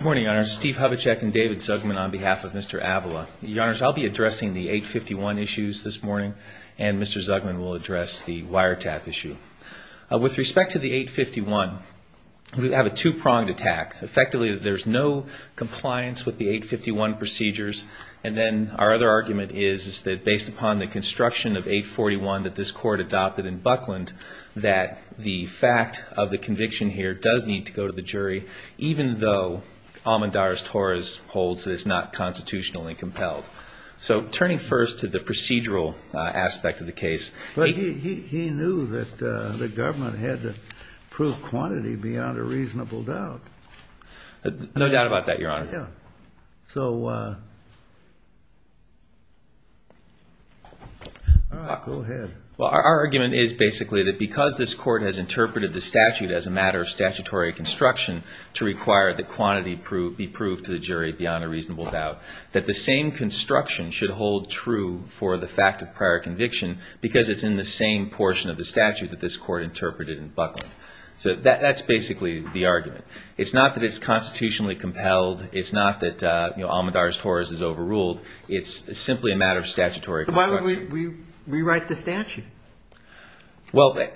Good morning, Your Honors. Steve Hovechek and David Zugman on behalf of Mr. Avila. Your Honors, I'll be addressing the 851 issues this morning, and Mr. Zugman will address the wiretap issue. With respect to the 851, we have a two-pronged attack. Effectively, there's no compliance with the 851 procedures. And then our other argument is that based upon the construction of 841 that this court adopted in Buckland, that the fact of the conviction here does need to go to the jury, even though Amadaris Torres holds that it's not constitutionally compelled. So turning first to the procedural aspect of the case. But he knew that the government had to prove quantity beyond a reasonable doubt. No doubt about that, Your Honor. Yeah. So, go ahead. Well, our argument is basically that because this court has interpreted the statute as a matter of statutory construction to require that quantity be proved to the jury beyond a reasonable doubt, that the same construction should hold true for the fact of prior conviction because it's in the same portion of the statute that this court interpreted in Buckland. So that's basically the argument. It's not that it's constitutionally compelled. It's not that Amadaris Torres is overruled. It's simply a matter of statutory construction. So why would we rewrite the statute? Well,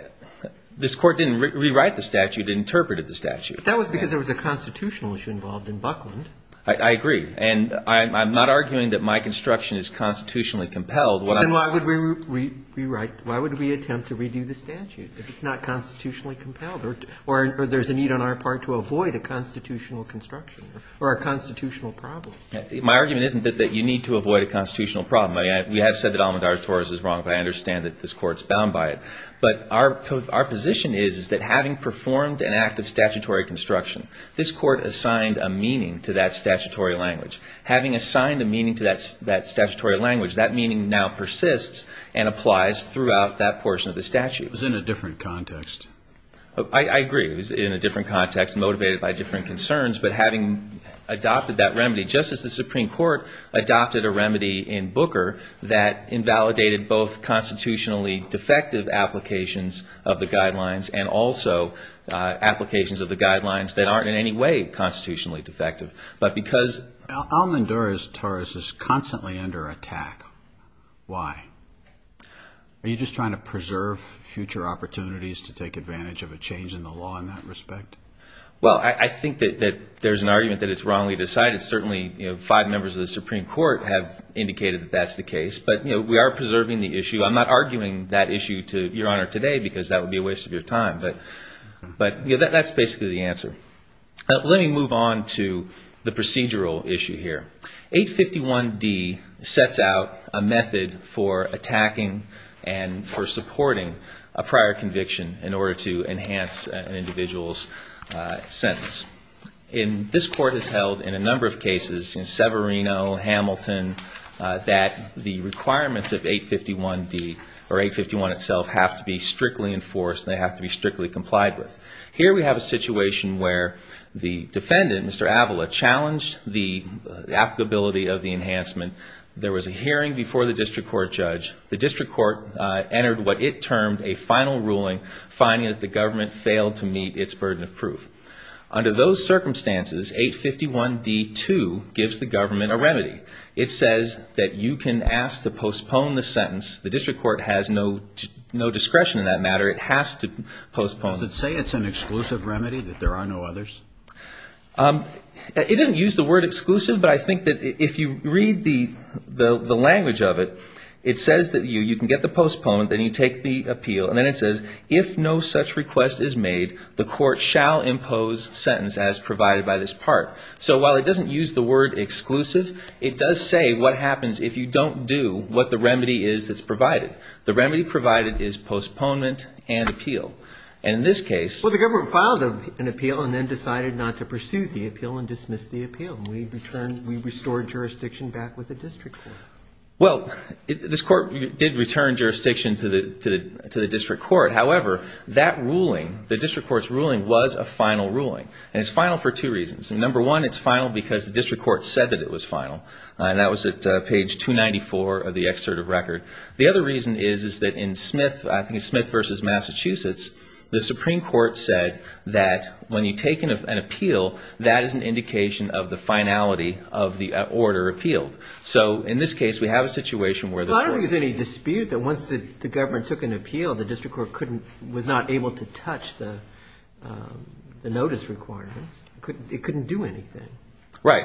this court didn't rewrite the statute. It interpreted the statute. That was because there was a constitutional issue involved in Buckland. I agree. And I'm not arguing that my construction is constitutionally compelled. Then why would we rewrite? Why would we attempt to redo the statute if it's not constitutionally compelled? Or there's a need on our part to avoid a constitutional construction or a constitutional problem? My argument isn't that you need to avoid a constitutional problem. We have said that Amadaris Torres is wrong, but I understand that this court's bound by it. But our position is that having performed an act of statutory construction, this court assigned a meaning to that statutory language. Having assigned a meaning to that statutory language, that meaning now persists and applies throughout that portion of the statute. It was in a different context. I agree. It was in a different context, motivated by different concerns. But having adopted that remedy, just as the Supreme Court adopted a remedy in Booker that invalidated both constitutionally defective applications of the guidelines and also applications of the guidelines that aren't in any way constitutionally defective. But because Amadaris Torres is constantly under attack, why? Are you just trying to preserve future opportunities to take advantage of a change in the law in that respect? Well, I think that there's an argument that it's wrongly decided. Certainly, five members of the Supreme Court have indicated that that's the case. But we are preserving the issue. I'm not arguing that issue to Your Honor today because that would be a waste of your time. But that's basically the answer. Let me move on to the procedural issue here. 851D sets out a method for attacking and for supporting a prior conviction in order to enhance an individual's sentence. And this Court has held in a number of cases, in Severino, Hamilton, that the requirements of 851D or 851 itself have to be strictly enforced. They have to be strictly complied with. Here we have a situation where the defendant, Mr. Avila, challenged the applicability of the enhancement. There was a hearing before the district court judge. The district court entered what it termed a final ruling, finding that the government failed to meet its burden of proof. Under those circumstances, 851D-2 gives the government a remedy. It says that you can ask to postpone the sentence. The district court has no discretion in that matter. It has to postpone it. Does it say it's an exclusive remedy, that there are no others? It doesn't use the word exclusive, but I think that if you read the language of it, it says that you can get the postponement, then you take the appeal, and then it says, if no such request is made, the court shall impose sentence as provided by this part. So while it doesn't use the word exclusive, it does say what happens if you don't do what the remedy is that's provided. The remedy provided is postponement and appeal. And in this case- Well, the government filed an appeal and then decided not to pursue the appeal and dismissed the appeal. We restored jurisdiction back with the district court. Well, this court did return jurisdiction to the district court. However, that ruling, the district court's ruling, was a final ruling, and it's final for two reasons. Number one, it's final because the district court said that it was final, and that was at page 294 of the excerpt of record. The other reason is that in Smith versus Massachusetts, the Supreme Court said that when you take an appeal, that is an indication of the finality of the order appealed. So in this case, we have a situation where the court- Well, I don't think there's any dispute that once the government took an appeal, the district court was not able to touch the notice requirements. It couldn't do anything. Right.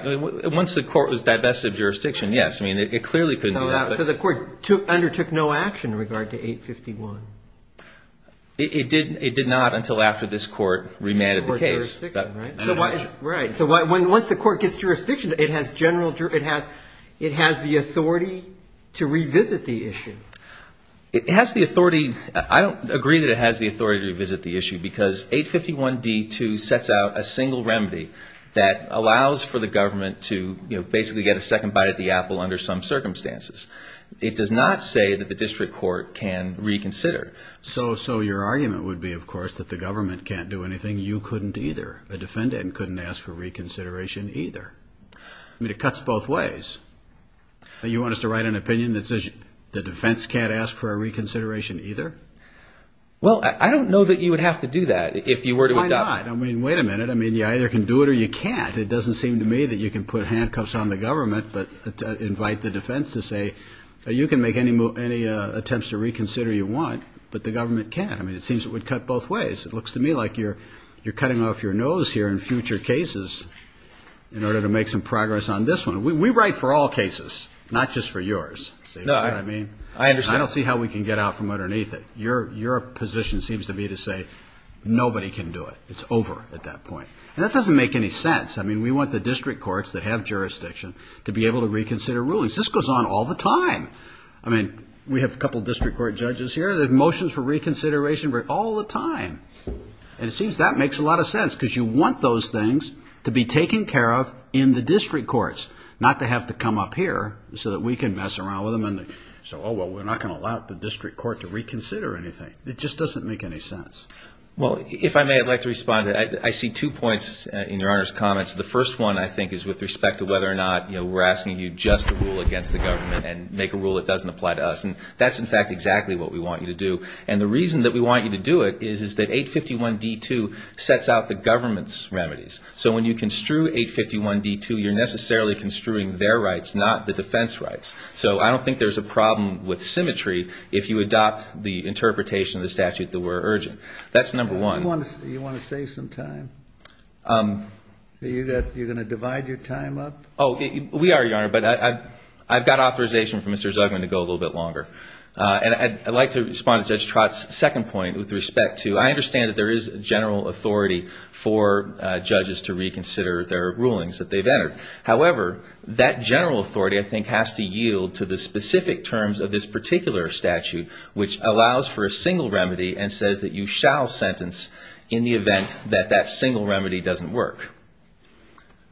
Once the court was divested of jurisdiction, yes. I mean, it clearly couldn't do that. So the court undertook no action in regard to 851. It did not until after this court remanded the case. Right. So once the court gets jurisdiction, it has the authority to revisit the issue. It has the authority. I don't agree that it has the authority to revisit the issue because 851d2 sets out a single remedy that allows for the government to, you know, basically get a second bite at the apple under some circumstances. It does not say that the district court can reconsider. So your argument would be, of course, that the government can't do anything. You couldn't either. The defendant couldn't ask for reconsideration either. I mean, it cuts both ways. You want us to write an opinion that says the defense can't ask for a reconsideration either? Well, I don't know that you would have to do that if you were to adopt- Why not? I mean, wait a minute. I mean, you either can do it or you can't. It doesn't seem to me that you can put handcuffs on the government but invite the defense to say, you can make any attempts to reconsider you want, but the government can't. I mean, it seems it would cut both ways. It looks to me like you're cutting off your nose here in future cases in order to make some progress on this one. We write for all cases, not just for yours. See what I mean? I understand. I don't see how we can get out from underneath it. Your position seems to me to say nobody can do it. It's over at that point. And that doesn't make any sense. I mean, we want the district courts that have jurisdiction to be able to reconsider rulings. This goes on all the time. I mean, we have a couple district court judges here. There are motions for reconsideration all the time. And it seems that makes a lot of sense because you want those things to be taken care of in the district courts, not to have to come up here so that we can mess around with them and say, oh, well, we're not going to allow the district court to reconsider anything. It just doesn't make any sense. Well, if I may, I'd like to respond. I see two points in Your Honor's comments. The first one, I think, is with respect to whether or not we're asking you just to rule against the government and make a rule that doesn't apply to us. And that's, in fact, exactly what we want you to do. And the reason that we want you to do it is that 851d2 sets out the government's remedies. So when you construe 851d2, you're necessarily construing their rights, not the defense rights. So I don't think there's a problem with symmetry if you adopt the interpretation of the statute that we're urging. That's number one. Do you want to save some time? Are you going to divide your time up? Oh, we are, Your Honor, but I've got authorization from Mr. Zugman to go a little bit longer. And I'd like to respond to Judge Trott's second point with respect to I understand that there is general authority for judges to reconsider their rulings that they've entered. However, that general authority, I think, has to yield to the specific terms of this particular statute, which allows for a single remedy and says that you shall sentence in the event that that single remedy doesn't work.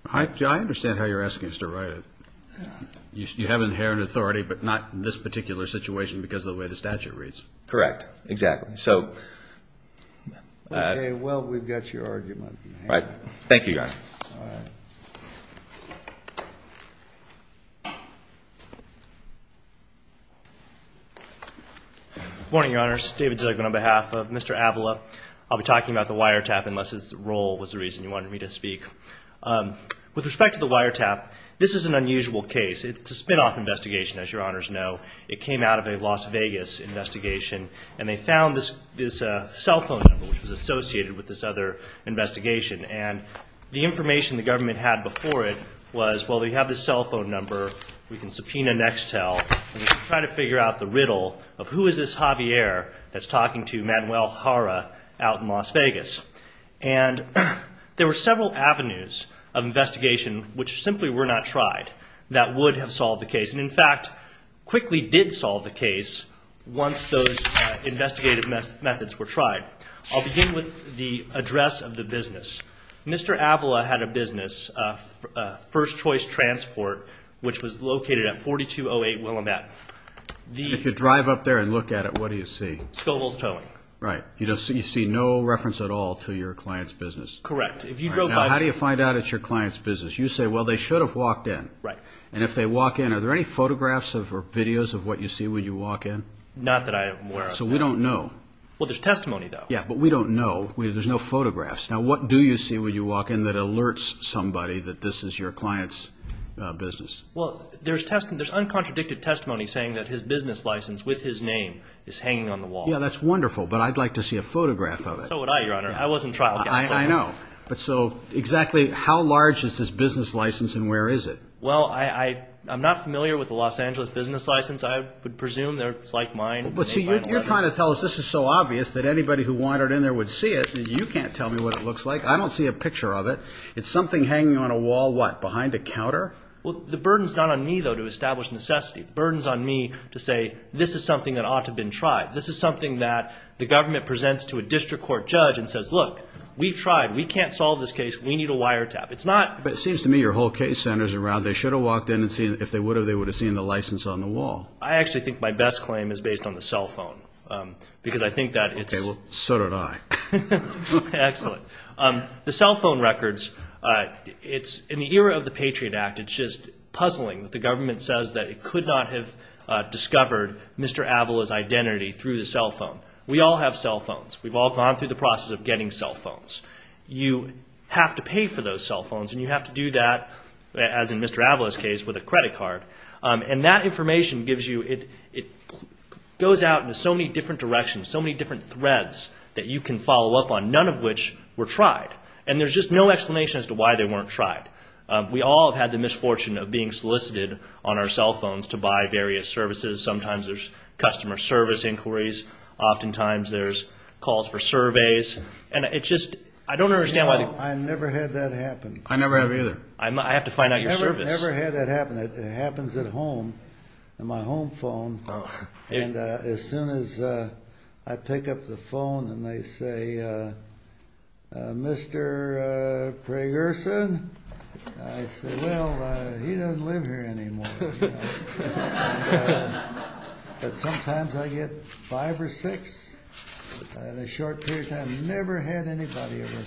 I understand how you're asking us to write it. You have inherent authority, but not in this particular situation because of the way the statute reads. Correct. Exactly. Well, we've got your argument. Thank you, Your Honor. All right. Good morning, Your Honors. David Zugman on behalf of Mr. Avila. I'll be talking about the wiretap unless his role was the reason you wanted me to speak. With respect to the wiretap, this is an unusual case. It's a spinoff investigation, as Your Honors know. It came out of a Las Vegas investigation, and they found this cell phone number, which was associated with this other investigation. And the information the government had before it was, well, we have this cell phone number. We can subpoena Nextel. We can try to figure out the riddle of who is this Javier that's talking to Manuel Jara out in Las Vegas. And there were several avenues of investigation which simply were not tried that would have solved the case, and, in fact, quickly did solve the case once those investigative methods were tried. All right. I'll begin with the address of the business. Mr. Avila had a business, First Choice Transport, which was located at 4208 Willamette. If you drive up there and look at it, what do you see? Scovels Towing. Right. You see no reference at all to your client's business. Correct. Now, how do you find out it's your client's business? You say, well, they should have walked in. Right. And if they walk in, are there any photographs or videos of what you see when you walk in? Not that I am aware of. So we don't know. Well, there's testimony, though. Yeah, but we don't know. There's no photographs. Now, what do you see when you walk in that alerts somebody that this is your client's business? Well, there's uncontradicted testimony saying that his business license with his name is hanging on the wall. Yeah, that's wonderful, but I'd like to see a photograph of it. So would I, Your Honor. I wasn't trial counsel. I know. But so exactly how large is this business license and where is it? Well, I'm not familiar with the Los Angeles business license. I would presume it's like mine. Well, see, you're trying to tell us this is so obvious that anybody who wandered in there would see it. You can't tell me what it looks like. I don't see a picture of it. It's something hanging on a wall, what, behind a counter? Well, the burden's not on me, though, to establish necessity. The burden's on me to say this is something that ought to have been tried. This is something that the government presents to a district court judge and says, look, we've tried. We can't solve this case. We need a wiretap. It's not. But it seems to me your whole case centers around they should have walked in and seen, if they would have, they would have seen the license on the wall. I actually think my best claim is based on the cell phone because I think that it's. Okay, well, so did I. Excellent. The cell phone records, it's in the era of the Patriot Act, it's just puzzling that the government says that it could not have discovered Mr. Avala's identity through the cell phone. We all have cell phones. We've all gone through the process of getting cell phones. You have to pay for those cell phones, and you have to do that, as in Mr. Avala's case, with a credit card. And that information gives you, it goes out into so many different directions, so many different threads that you can follow up on, none of which were tried. And there's just no explanation as to why they weren't tried. We all have had the misfortune of being solicited on our cell phones to buy various services. Sometimes there's customer service inquiries. Oftentimes there's calls for surveys. And it's just, I don't understand why. No, I never had that happen. I never have either. I have to find out your service. I never had that happen. It happens at home, on my home phone. And as soon as I pick up the phone and they say, Mr. Pragerson, I say, well, he doesn't live here anymore. But sometimes I get five or six in a short period of time. Never had anybody ever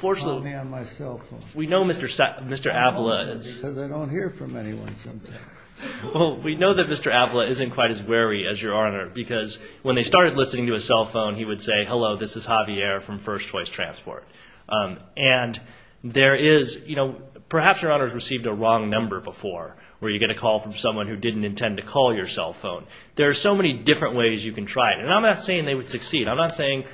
call me on my cell phone. We know Mr. Avila is. Because I don't hear from anyone sometimes. Well, we know that Mr. Avila isn't quite as wary as Your Honor, because when they started listening to his cell phone, he would say, hello, this is Javier from First Choice Transport. And there is, you know, perhaps Your Honor has received a wrong number before, where you get a call from someone who didn't intend to call your cell phone. There are so many different ways you can try it. And I'm not saying they would succeed. I'm not saying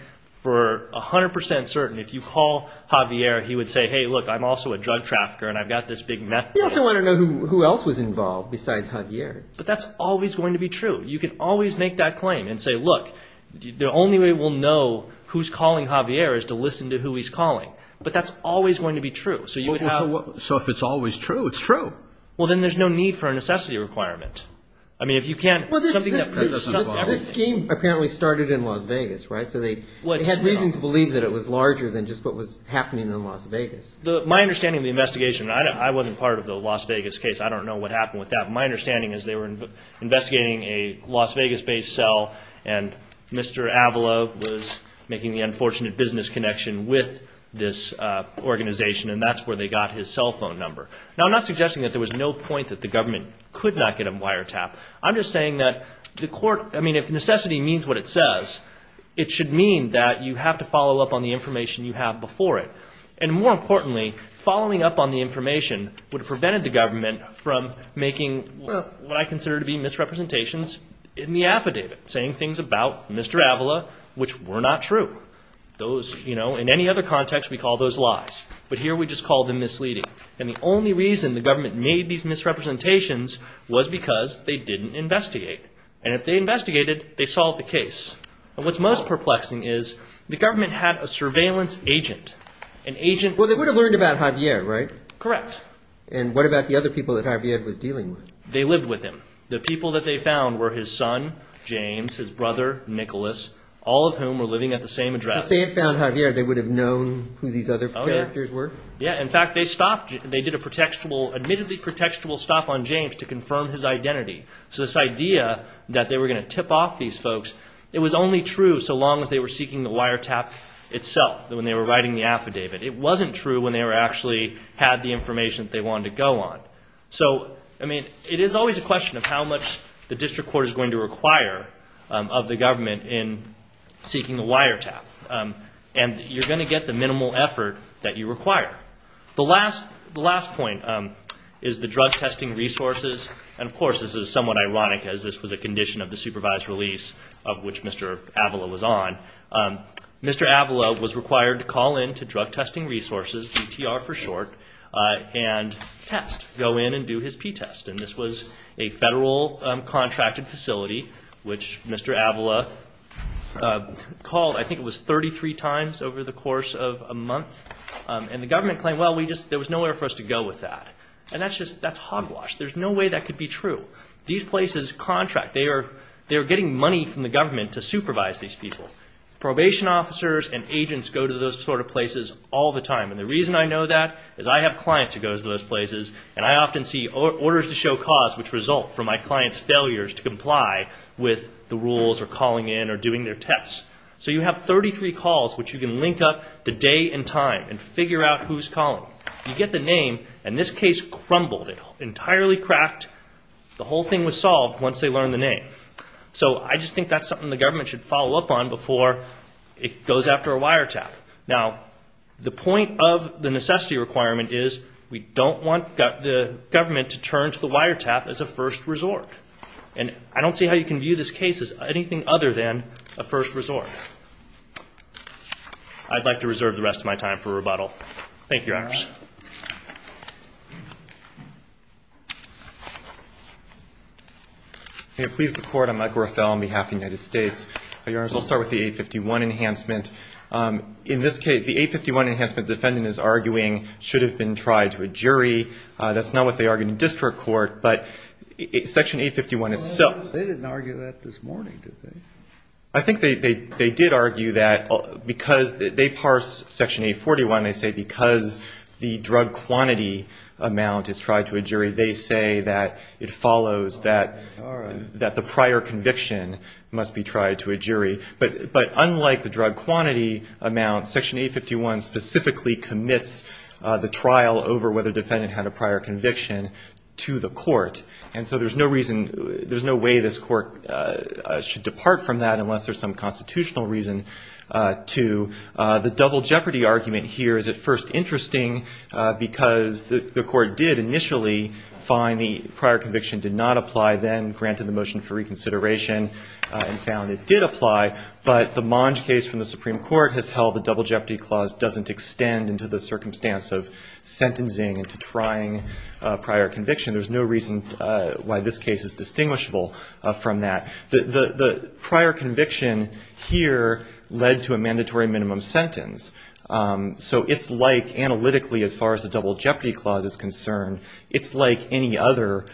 for 100 percent certain. If you call Javier, he would say, hey, look, I'm also a drug trafficker and I've got this big meth thing. You also want to know who else was involved besides Javier. But that's always going to be true. You can always make that claim and say, look, the only way we'll know who's calling Javier is to listen to who he's calling. But that's always going to be true. So if it's always true, it's true. Well, then there's no need for a necessity requirement. I mean, if you can't – This scheme apparently started in Las Vegas, right? So they had reason to believe that it was larger than just what was happening in Las Vegas. My understanding of the investigation, I wasn't part of the Las Vegas case. I don't know what happened with that. My understanding is they were investigating a Las Vegas-based cell, and Mr. Avelo was making the unfortunate business connection with this organization, and that's where they got his cell phone number. Now, I'm not suggesting that there was no point that the government could not get a wiretap. I'm just saying that the court – doesn't mean that you have to follow up on the information you have before it. And more importantly, following up on the information would have prevented the government from making what I consider to be misrepresentations in the affidavit, saying things about Mr. Avelo which were not true. Those, you know, in any other context, we call those lies. But here we just call them misleading. And the only reason the government made these misrepresentations was because they didn't investigate. And if they investigated, they solved the case. And what's most perplexing is the government had a surveillance agent, an agent – Well, they would have learned about Javier, right? Correct. And what about the other people that Javier was dealing with? They lived with him. The people that they found were his son, James, his brother, Nicholas, all of whom were living at the same address. If they had found Javier, they would have known who these other characters were? Oh, yeah. Yeah. In fact, they stopped – they did a pretextual – admittedly pretextual stop on James to confirm his identity. So this idea that they were going to tip off these folks, it was only true so long as they were seeking the wiretap itself when they were writing the affidavit. It wasn't true when they actually had the information that they wanted to go on. So, I mean, it is always a question of how much the district court is going to require of the government in seeking the wiretap. And you're going to get the minimal effort that you require. The last point is the drug testing resources. And, of course, this is somewhat ironic as this was a condition of the supervised release of which Mr. Avila was on. Mr. Avila was required to call in to drug testing resources, GTR for short, and test, go in and do his P-test. And this was a federal contracted facility, which Mr. Avila called, I think it was, 33 times over the course of a month. And the government claimed, well, there was nowhere for us to go with that. And that's hogwash. There's no way that could be true. These places contract. They are getting money from the government to supervise these people. Probation officers and agents go to those sort of places all the time. And the reason I know that is I have clients who go to those places, and I often see orders to show cause which result from my clients' failures to comply with the rules or calling in or doing their tests. So you have 33 calls which you can link up to day and time and figure out who's calling. You get the name, and this case crumbled. It entirely cracked. The whole thing was solved once they learned the name. So I just think that's something the government should follow up on before it goes after a wiretap. Now, the point of the necessity requirement is we don't want the government to turn to the wiretap as a first resort. And I don't see how you can view this case as anything other than a first resort. I'd like to reserve the rest of my time for rebuttal. Thank you, Your Honors. May it please the Court. I'm Mike Rothell on behalf of the United States. Your Honors, I'll start with the 851 enhancement. In this case, the 851 enhancement the defendant is arguing should have been tried to a jury. That's not what they argue in district court, but Section 851 itself. They didn't argue that this morning, did they? I think they did argue that because they parse Section 841, they say because the drug quantity amount is tried to a jury, they say that it follows that the prior conviction must be tried to a jury. But unlike the drug quantity amount, Section 851 specifically commits the trial over whether the defendant had a prior conviction to the court. And so there's no reason, there's no way this court should depart from that unless there's some constitutional reason to. The double jeopardy argument here is at first interesting because the court did initially find the prior conviction did not apply then, granted the motion for reconsideration, and found it did apply. But the Monge case from the Supreme Court has held the double jeopardy clause doesn't extend into the circumstance of sentencing into trying a prior conviction. There's no reason why this case is distinguishable from that. The prior conviction here led to a mandatory minimum sentence. So it's like, analytically, as far as the double jeopardy clause is concerned, it's like any other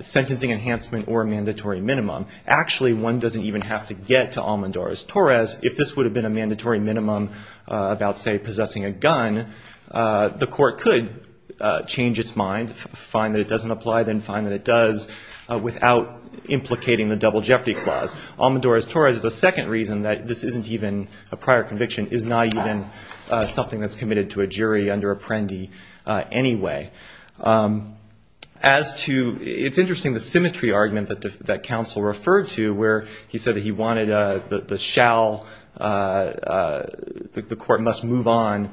sentencing enhancement or mandatory minimum. Actually, one doesn't even have to get to Almodores-Torres. If this would have been a mandatory minimum about, say, possessing a gun, the court could change its mind, find that it doesn't apply, then find that it does without implicating the double jeopardy clause. Almodores-Torres is the second reason that this isn't even a prior conviction, is not even something that's committed to a jury under apprendi anyway. As to ‑‑ it's interesting, the symmetry argument that counsel referred to where he said that he wanted the shall, the court must move on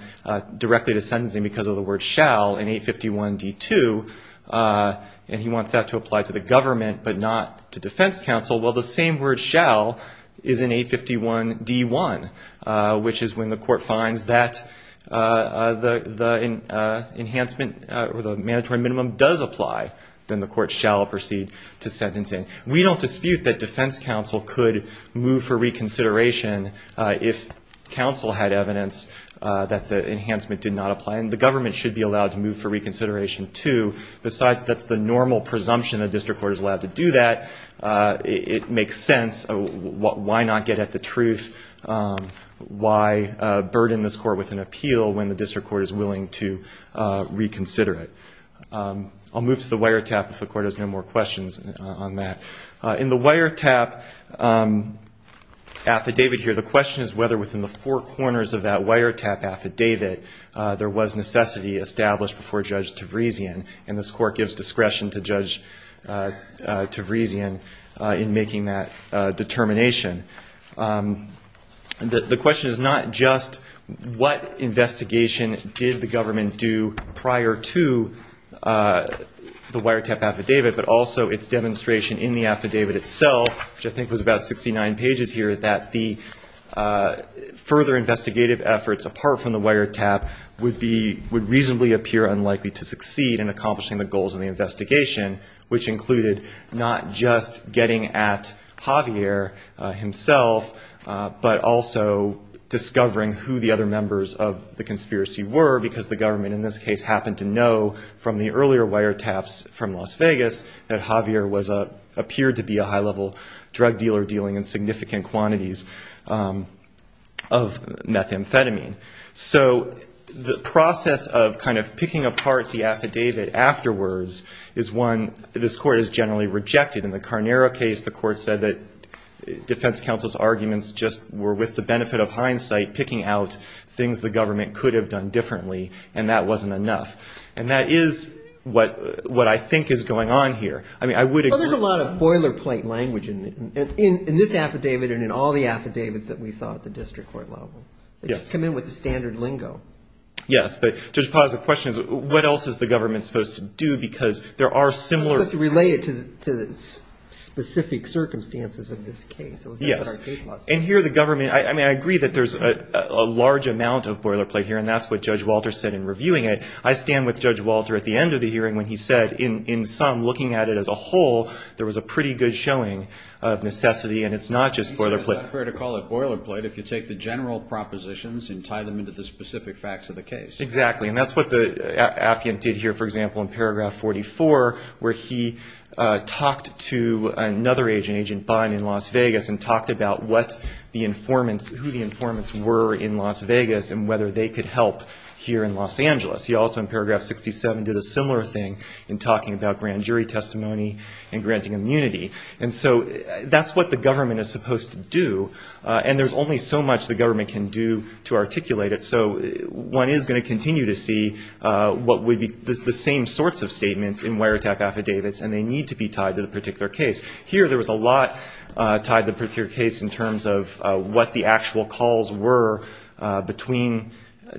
directly to sentencing because of the word shall in 851D2, and he wants that to apply to the government but not to defense counsel. Well, the same word shall is in 851D1, which is when the court finds that the enhancement or the mandatory minimum does apply, then the court shall proceed to sentencing. We don't dispute that defense counsel could move for reconsideration if counsel had evidence that the enhancement did not apply, and the government should be allowed to move for reconsideration, too. Besides, that's the normal presumption the district court is allowed to do that. It makes sense. Why not get at the truth? Why burden this court with an appeal when the district court is willing to reconsider it? I'll move to the wiretap if the court has no more questions on that. In the wiretap affidavit here, the question is whether within the four corners of that wiretap affidavit there was necessity established before Judge Tavrezian, and this court gives discretion to Judge Tavrezian in making that determination. The question is not just what investigation did the government do prior to the wiretap affidavit, but also its demonstration in the affidavit itself, which I think was about 69 pages here, that the further investigative efforts apart from the wiretap would reasonably appear unlikely to succeed in accomplishing the goals of the investigation, which included not just getting at Javier himself, but also discovering who the other members of the conspiracy were because the government in this case happened to know from the earlier wiretaps from Las Vegas that Javier appeared to be a high-level drug dealer dealing in significant quantities of methamphetamine. So the process of kind of picking apart the affidavit afterwards is one this court has generally rejected. In the Carnera case, the court said that defense counsel's arguments just were with the benefit of hindsight, picking out things the government could have done differently, and that wasn't enough. And that is what I think is going on here. I mean, I would agree. Well, there's a lot of boilerplate language in this affidavit and in all the affidavits that we saw at the district court level. Yes. They just come in with the standard lingo. Yes. But, Judge Potts, the question is what else is the government supposed to do because there are similar ---- Related to the specific circumstances of this case. Yes. And here the government ---- I mean, I agree that there's a large amount of boilerplate here, and that's what Judge Walter said in reviewing it. I stand with Judge Walter at the end of the hearing when he said, in sum, looking at it as a whole, there was a pretty good showing of necessity, and it's not just boilerplate. It's not fair to call it boilerplate if you take the general propositions and tie them into the specific facts of the case. Exactly. And that's what Appian did here, for example, in paragraph 44, where he talked to another agent, Agent Bond, in Las Vegas and talked about what the informants, who the informants were in Las Vegas and whether they could help here in Los Angeles. He also, in paragraph 67, did a similar thing in talking about grand jury testimony and granting immunity. And so that's what the government is supposed to do, and there's only so much the government can do to articulate it. So one is going to continue to see what would be the same sorts of statements in wiretap affidavits, and they need to be tied to the particular case. Here, there was a lot tied to the particular case in terms of what the actual calls were between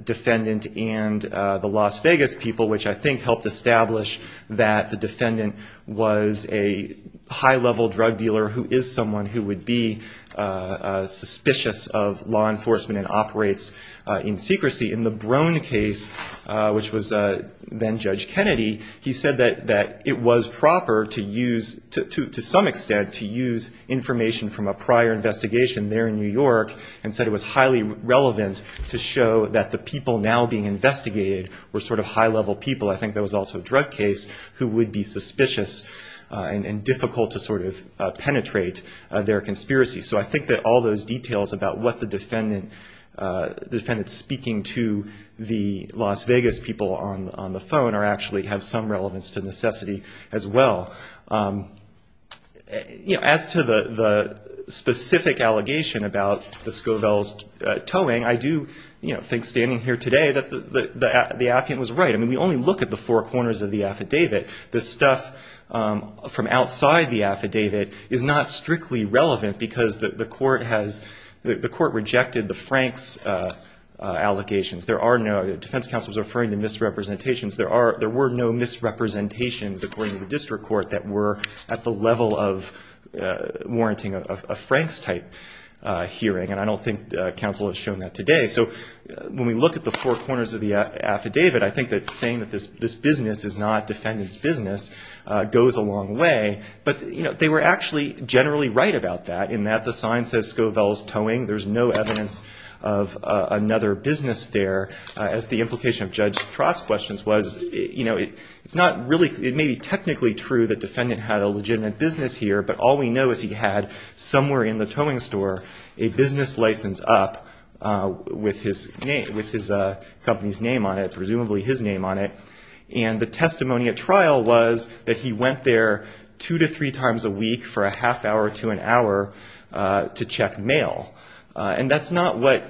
defendant and the Las Vegas people, which I think helped establish that the defendant was a high-level drug dealer who is someone who would be suspicious of law enforcement and operates in secrecy. In the Brone case, which was then Judge Kennedy, he said that it was proper to use, to some extent, to use information from a prior investigation there in New York, and said it was highly relevant to show that the people now being investigated were sort of high-level people. I think there was also a drug case who would be suspicious and difficult to sort of penetrate their conspiracy. So I think that all those details about what the defendant is speaking to the Las Vegas people on the phone actually have some relevance to necessity as well. As to the specific allegation about the Scovels towing, I do think, standing here today, that the affidavit was right. I mean, we only look at the four corners of the affidavit. The stuff from outside the affidavit is not strictly relevant because the court rejected the Franks allegations. Defense counsel was referring to misrepresentations. There were no misrepresentations, according to the district court, that were at the level of warranting a Franks-type hearing, and I don't think counsel has shown that today. So when we look at the four corners of the affidavit, I think that saying that this business is not defendant's business goes a long way. But, you know, they were actually generally right about that, in that the sign says Scovels Towing. There's no evidence of another business there, as the implication of Judge Trott's questions was. You know, it's not really – it may be technically true that the defendant had a legitimate business here, but all we know is he had somewhere in the towing store a business license up with his company's name on it, presumably his name on it. And the testimony at trial was that he went there two to three times a week for a half hour to an hour to check mail. And that's not what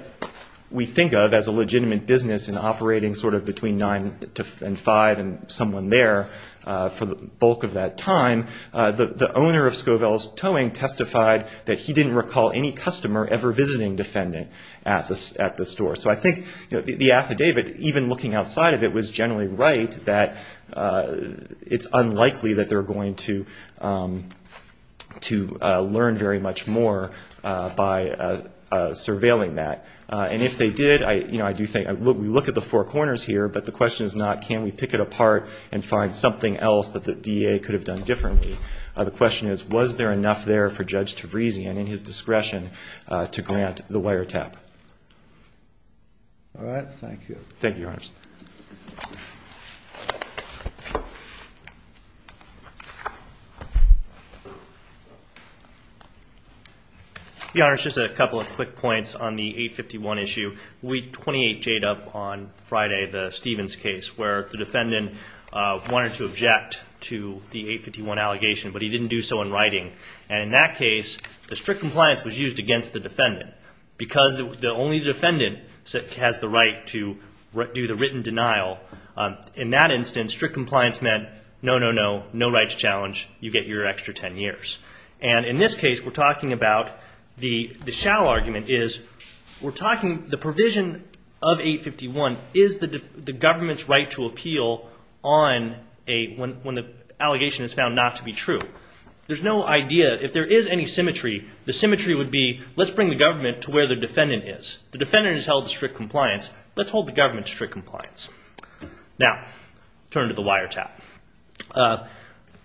we think of as a legitimate business in operating sort of between 9 and 5 and someone there for the bulk of that time. The owner of Scovels Towing testified that he didn't recall any customer ever visiting defendant at the store. So I think the affidavit, even looking outside of it, was generally right that it's unlikely that they're going to learn very much more by surveilling that. And if they did, you know, I do think – we look at the four corners here, but the question is not can we pick it apart and find something else that the DA could have done differently. The question is, was there enough there for Judge Tavrisian and his discretion to grant the wiretap? All right. Thank you. Thank you, Your Honors. Your Honors, just a couple of quick points on the 851 issue. Week 28 jayed up on Friday, the Stevens case, where the defendant wanted to object to the 851 allegation, but he didn't do so in writing. And in that case, the strict compliance was used against the defendant because only the defendant has the right to do the written denial. In that instance, strict compliance meant no, no, no, no rights challenge. You get your extra 10 years. And in this case, we're talking about – the shallow argument is we're talking – the provision of 851 is the government's right to appeal on a – when the allegation is found not to be true. There's no idea – if there is any symmetry, the symmetry would be let's bring the government to where the defendant is. The defendant has held strict compliance. Let's hold the government to strict compliance. Now, turn to the wiretap.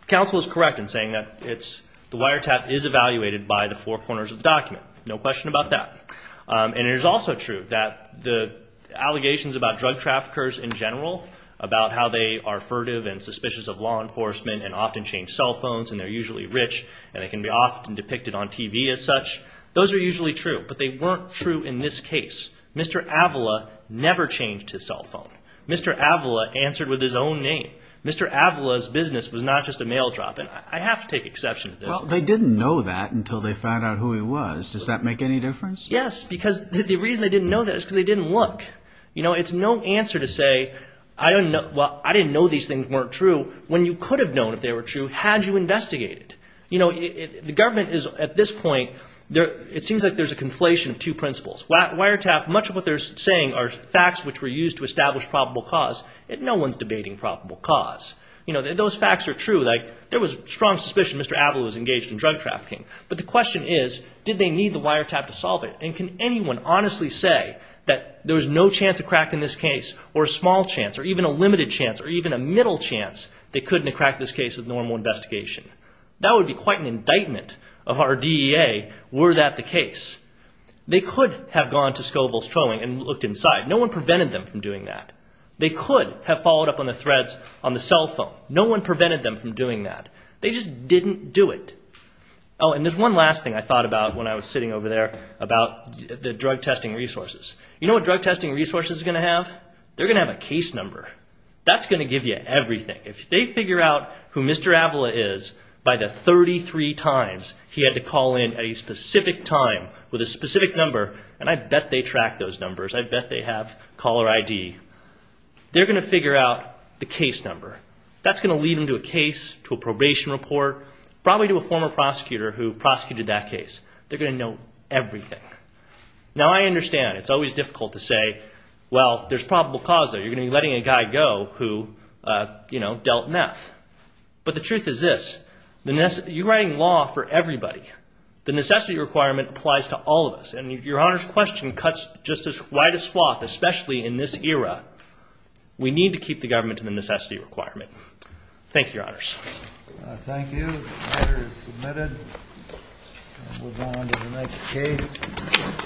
Counsel is correct in saying that it's – the wiretap is evaluated by the four corners of the document. No question about that. And it is also true that the allegations about drug traffickers in general, about how they are furtive and suspicious of law enforcement and often change cell phones and they're usually rich and they can be often depicted on TV as such, those are usually true. But they weren't true in this case. Mr. Avila never changed his cell phone. Mr. Avila answered with his own name. Mr. Avila's business was not just a mail drop in. I have to take exception to this. Well, they didn't know that until they found out who he was. Does that make any difference? Yes, because the reason they didn't know that is because they didn't look. It's no answer to say, well, I didn't know these things weren't true when you could have known if they were true had you investigated. The government is at this point – it seems like there's a conflation of two principles. Wiretap, much of what they're saying are facts which were used to establish probable cause. No one's debating probable cause. Those facts are true. There was strong suspicion Mr. Avila was engaged in drug trafficking. But the question is, did they need the wiretap to solve it? And can anyone honestly say that there was no chance of crack in this case or a small chance or even a limited chance or even a middle chance they couldn't have cracked this case with normal investigation? They could have gone to Scoville's Towing and looked inside. No one prevented them from doing that. They could have followed up on the threads on the cell phone. No one prevented them from doing that. They just didn't do it. Oh, and there's one last thing I thought about when I was sitting over there about the drug testing resources. You know what drug testing resources are going to have? They're going to have a case number. That's going to give you everything. If they figure out who Mr. Avila is by the 33 times he had to call in at a specific time with a specific number, and I bet they track those numbers. I bet they have caller ID. They're going to figure out the case number. That's going to lead them to a case, to a probation report, probably to a former prosecutor who prosecuted that case. They're going to know everything. Now, I understand it's always difficult to say, well, there's probable cause there. You're going to be letting a guy go who, you know, dealt meth. But the truth is this. You're writing law for everybody. The necessity requirement applies to all of us. And your Honor's question cuts just as wide a swath, especially in this era. We need to keep the government to the necessity requirement. Thank you, Your Honors. Thank you. The matter is submitted. We'll go on to the next case.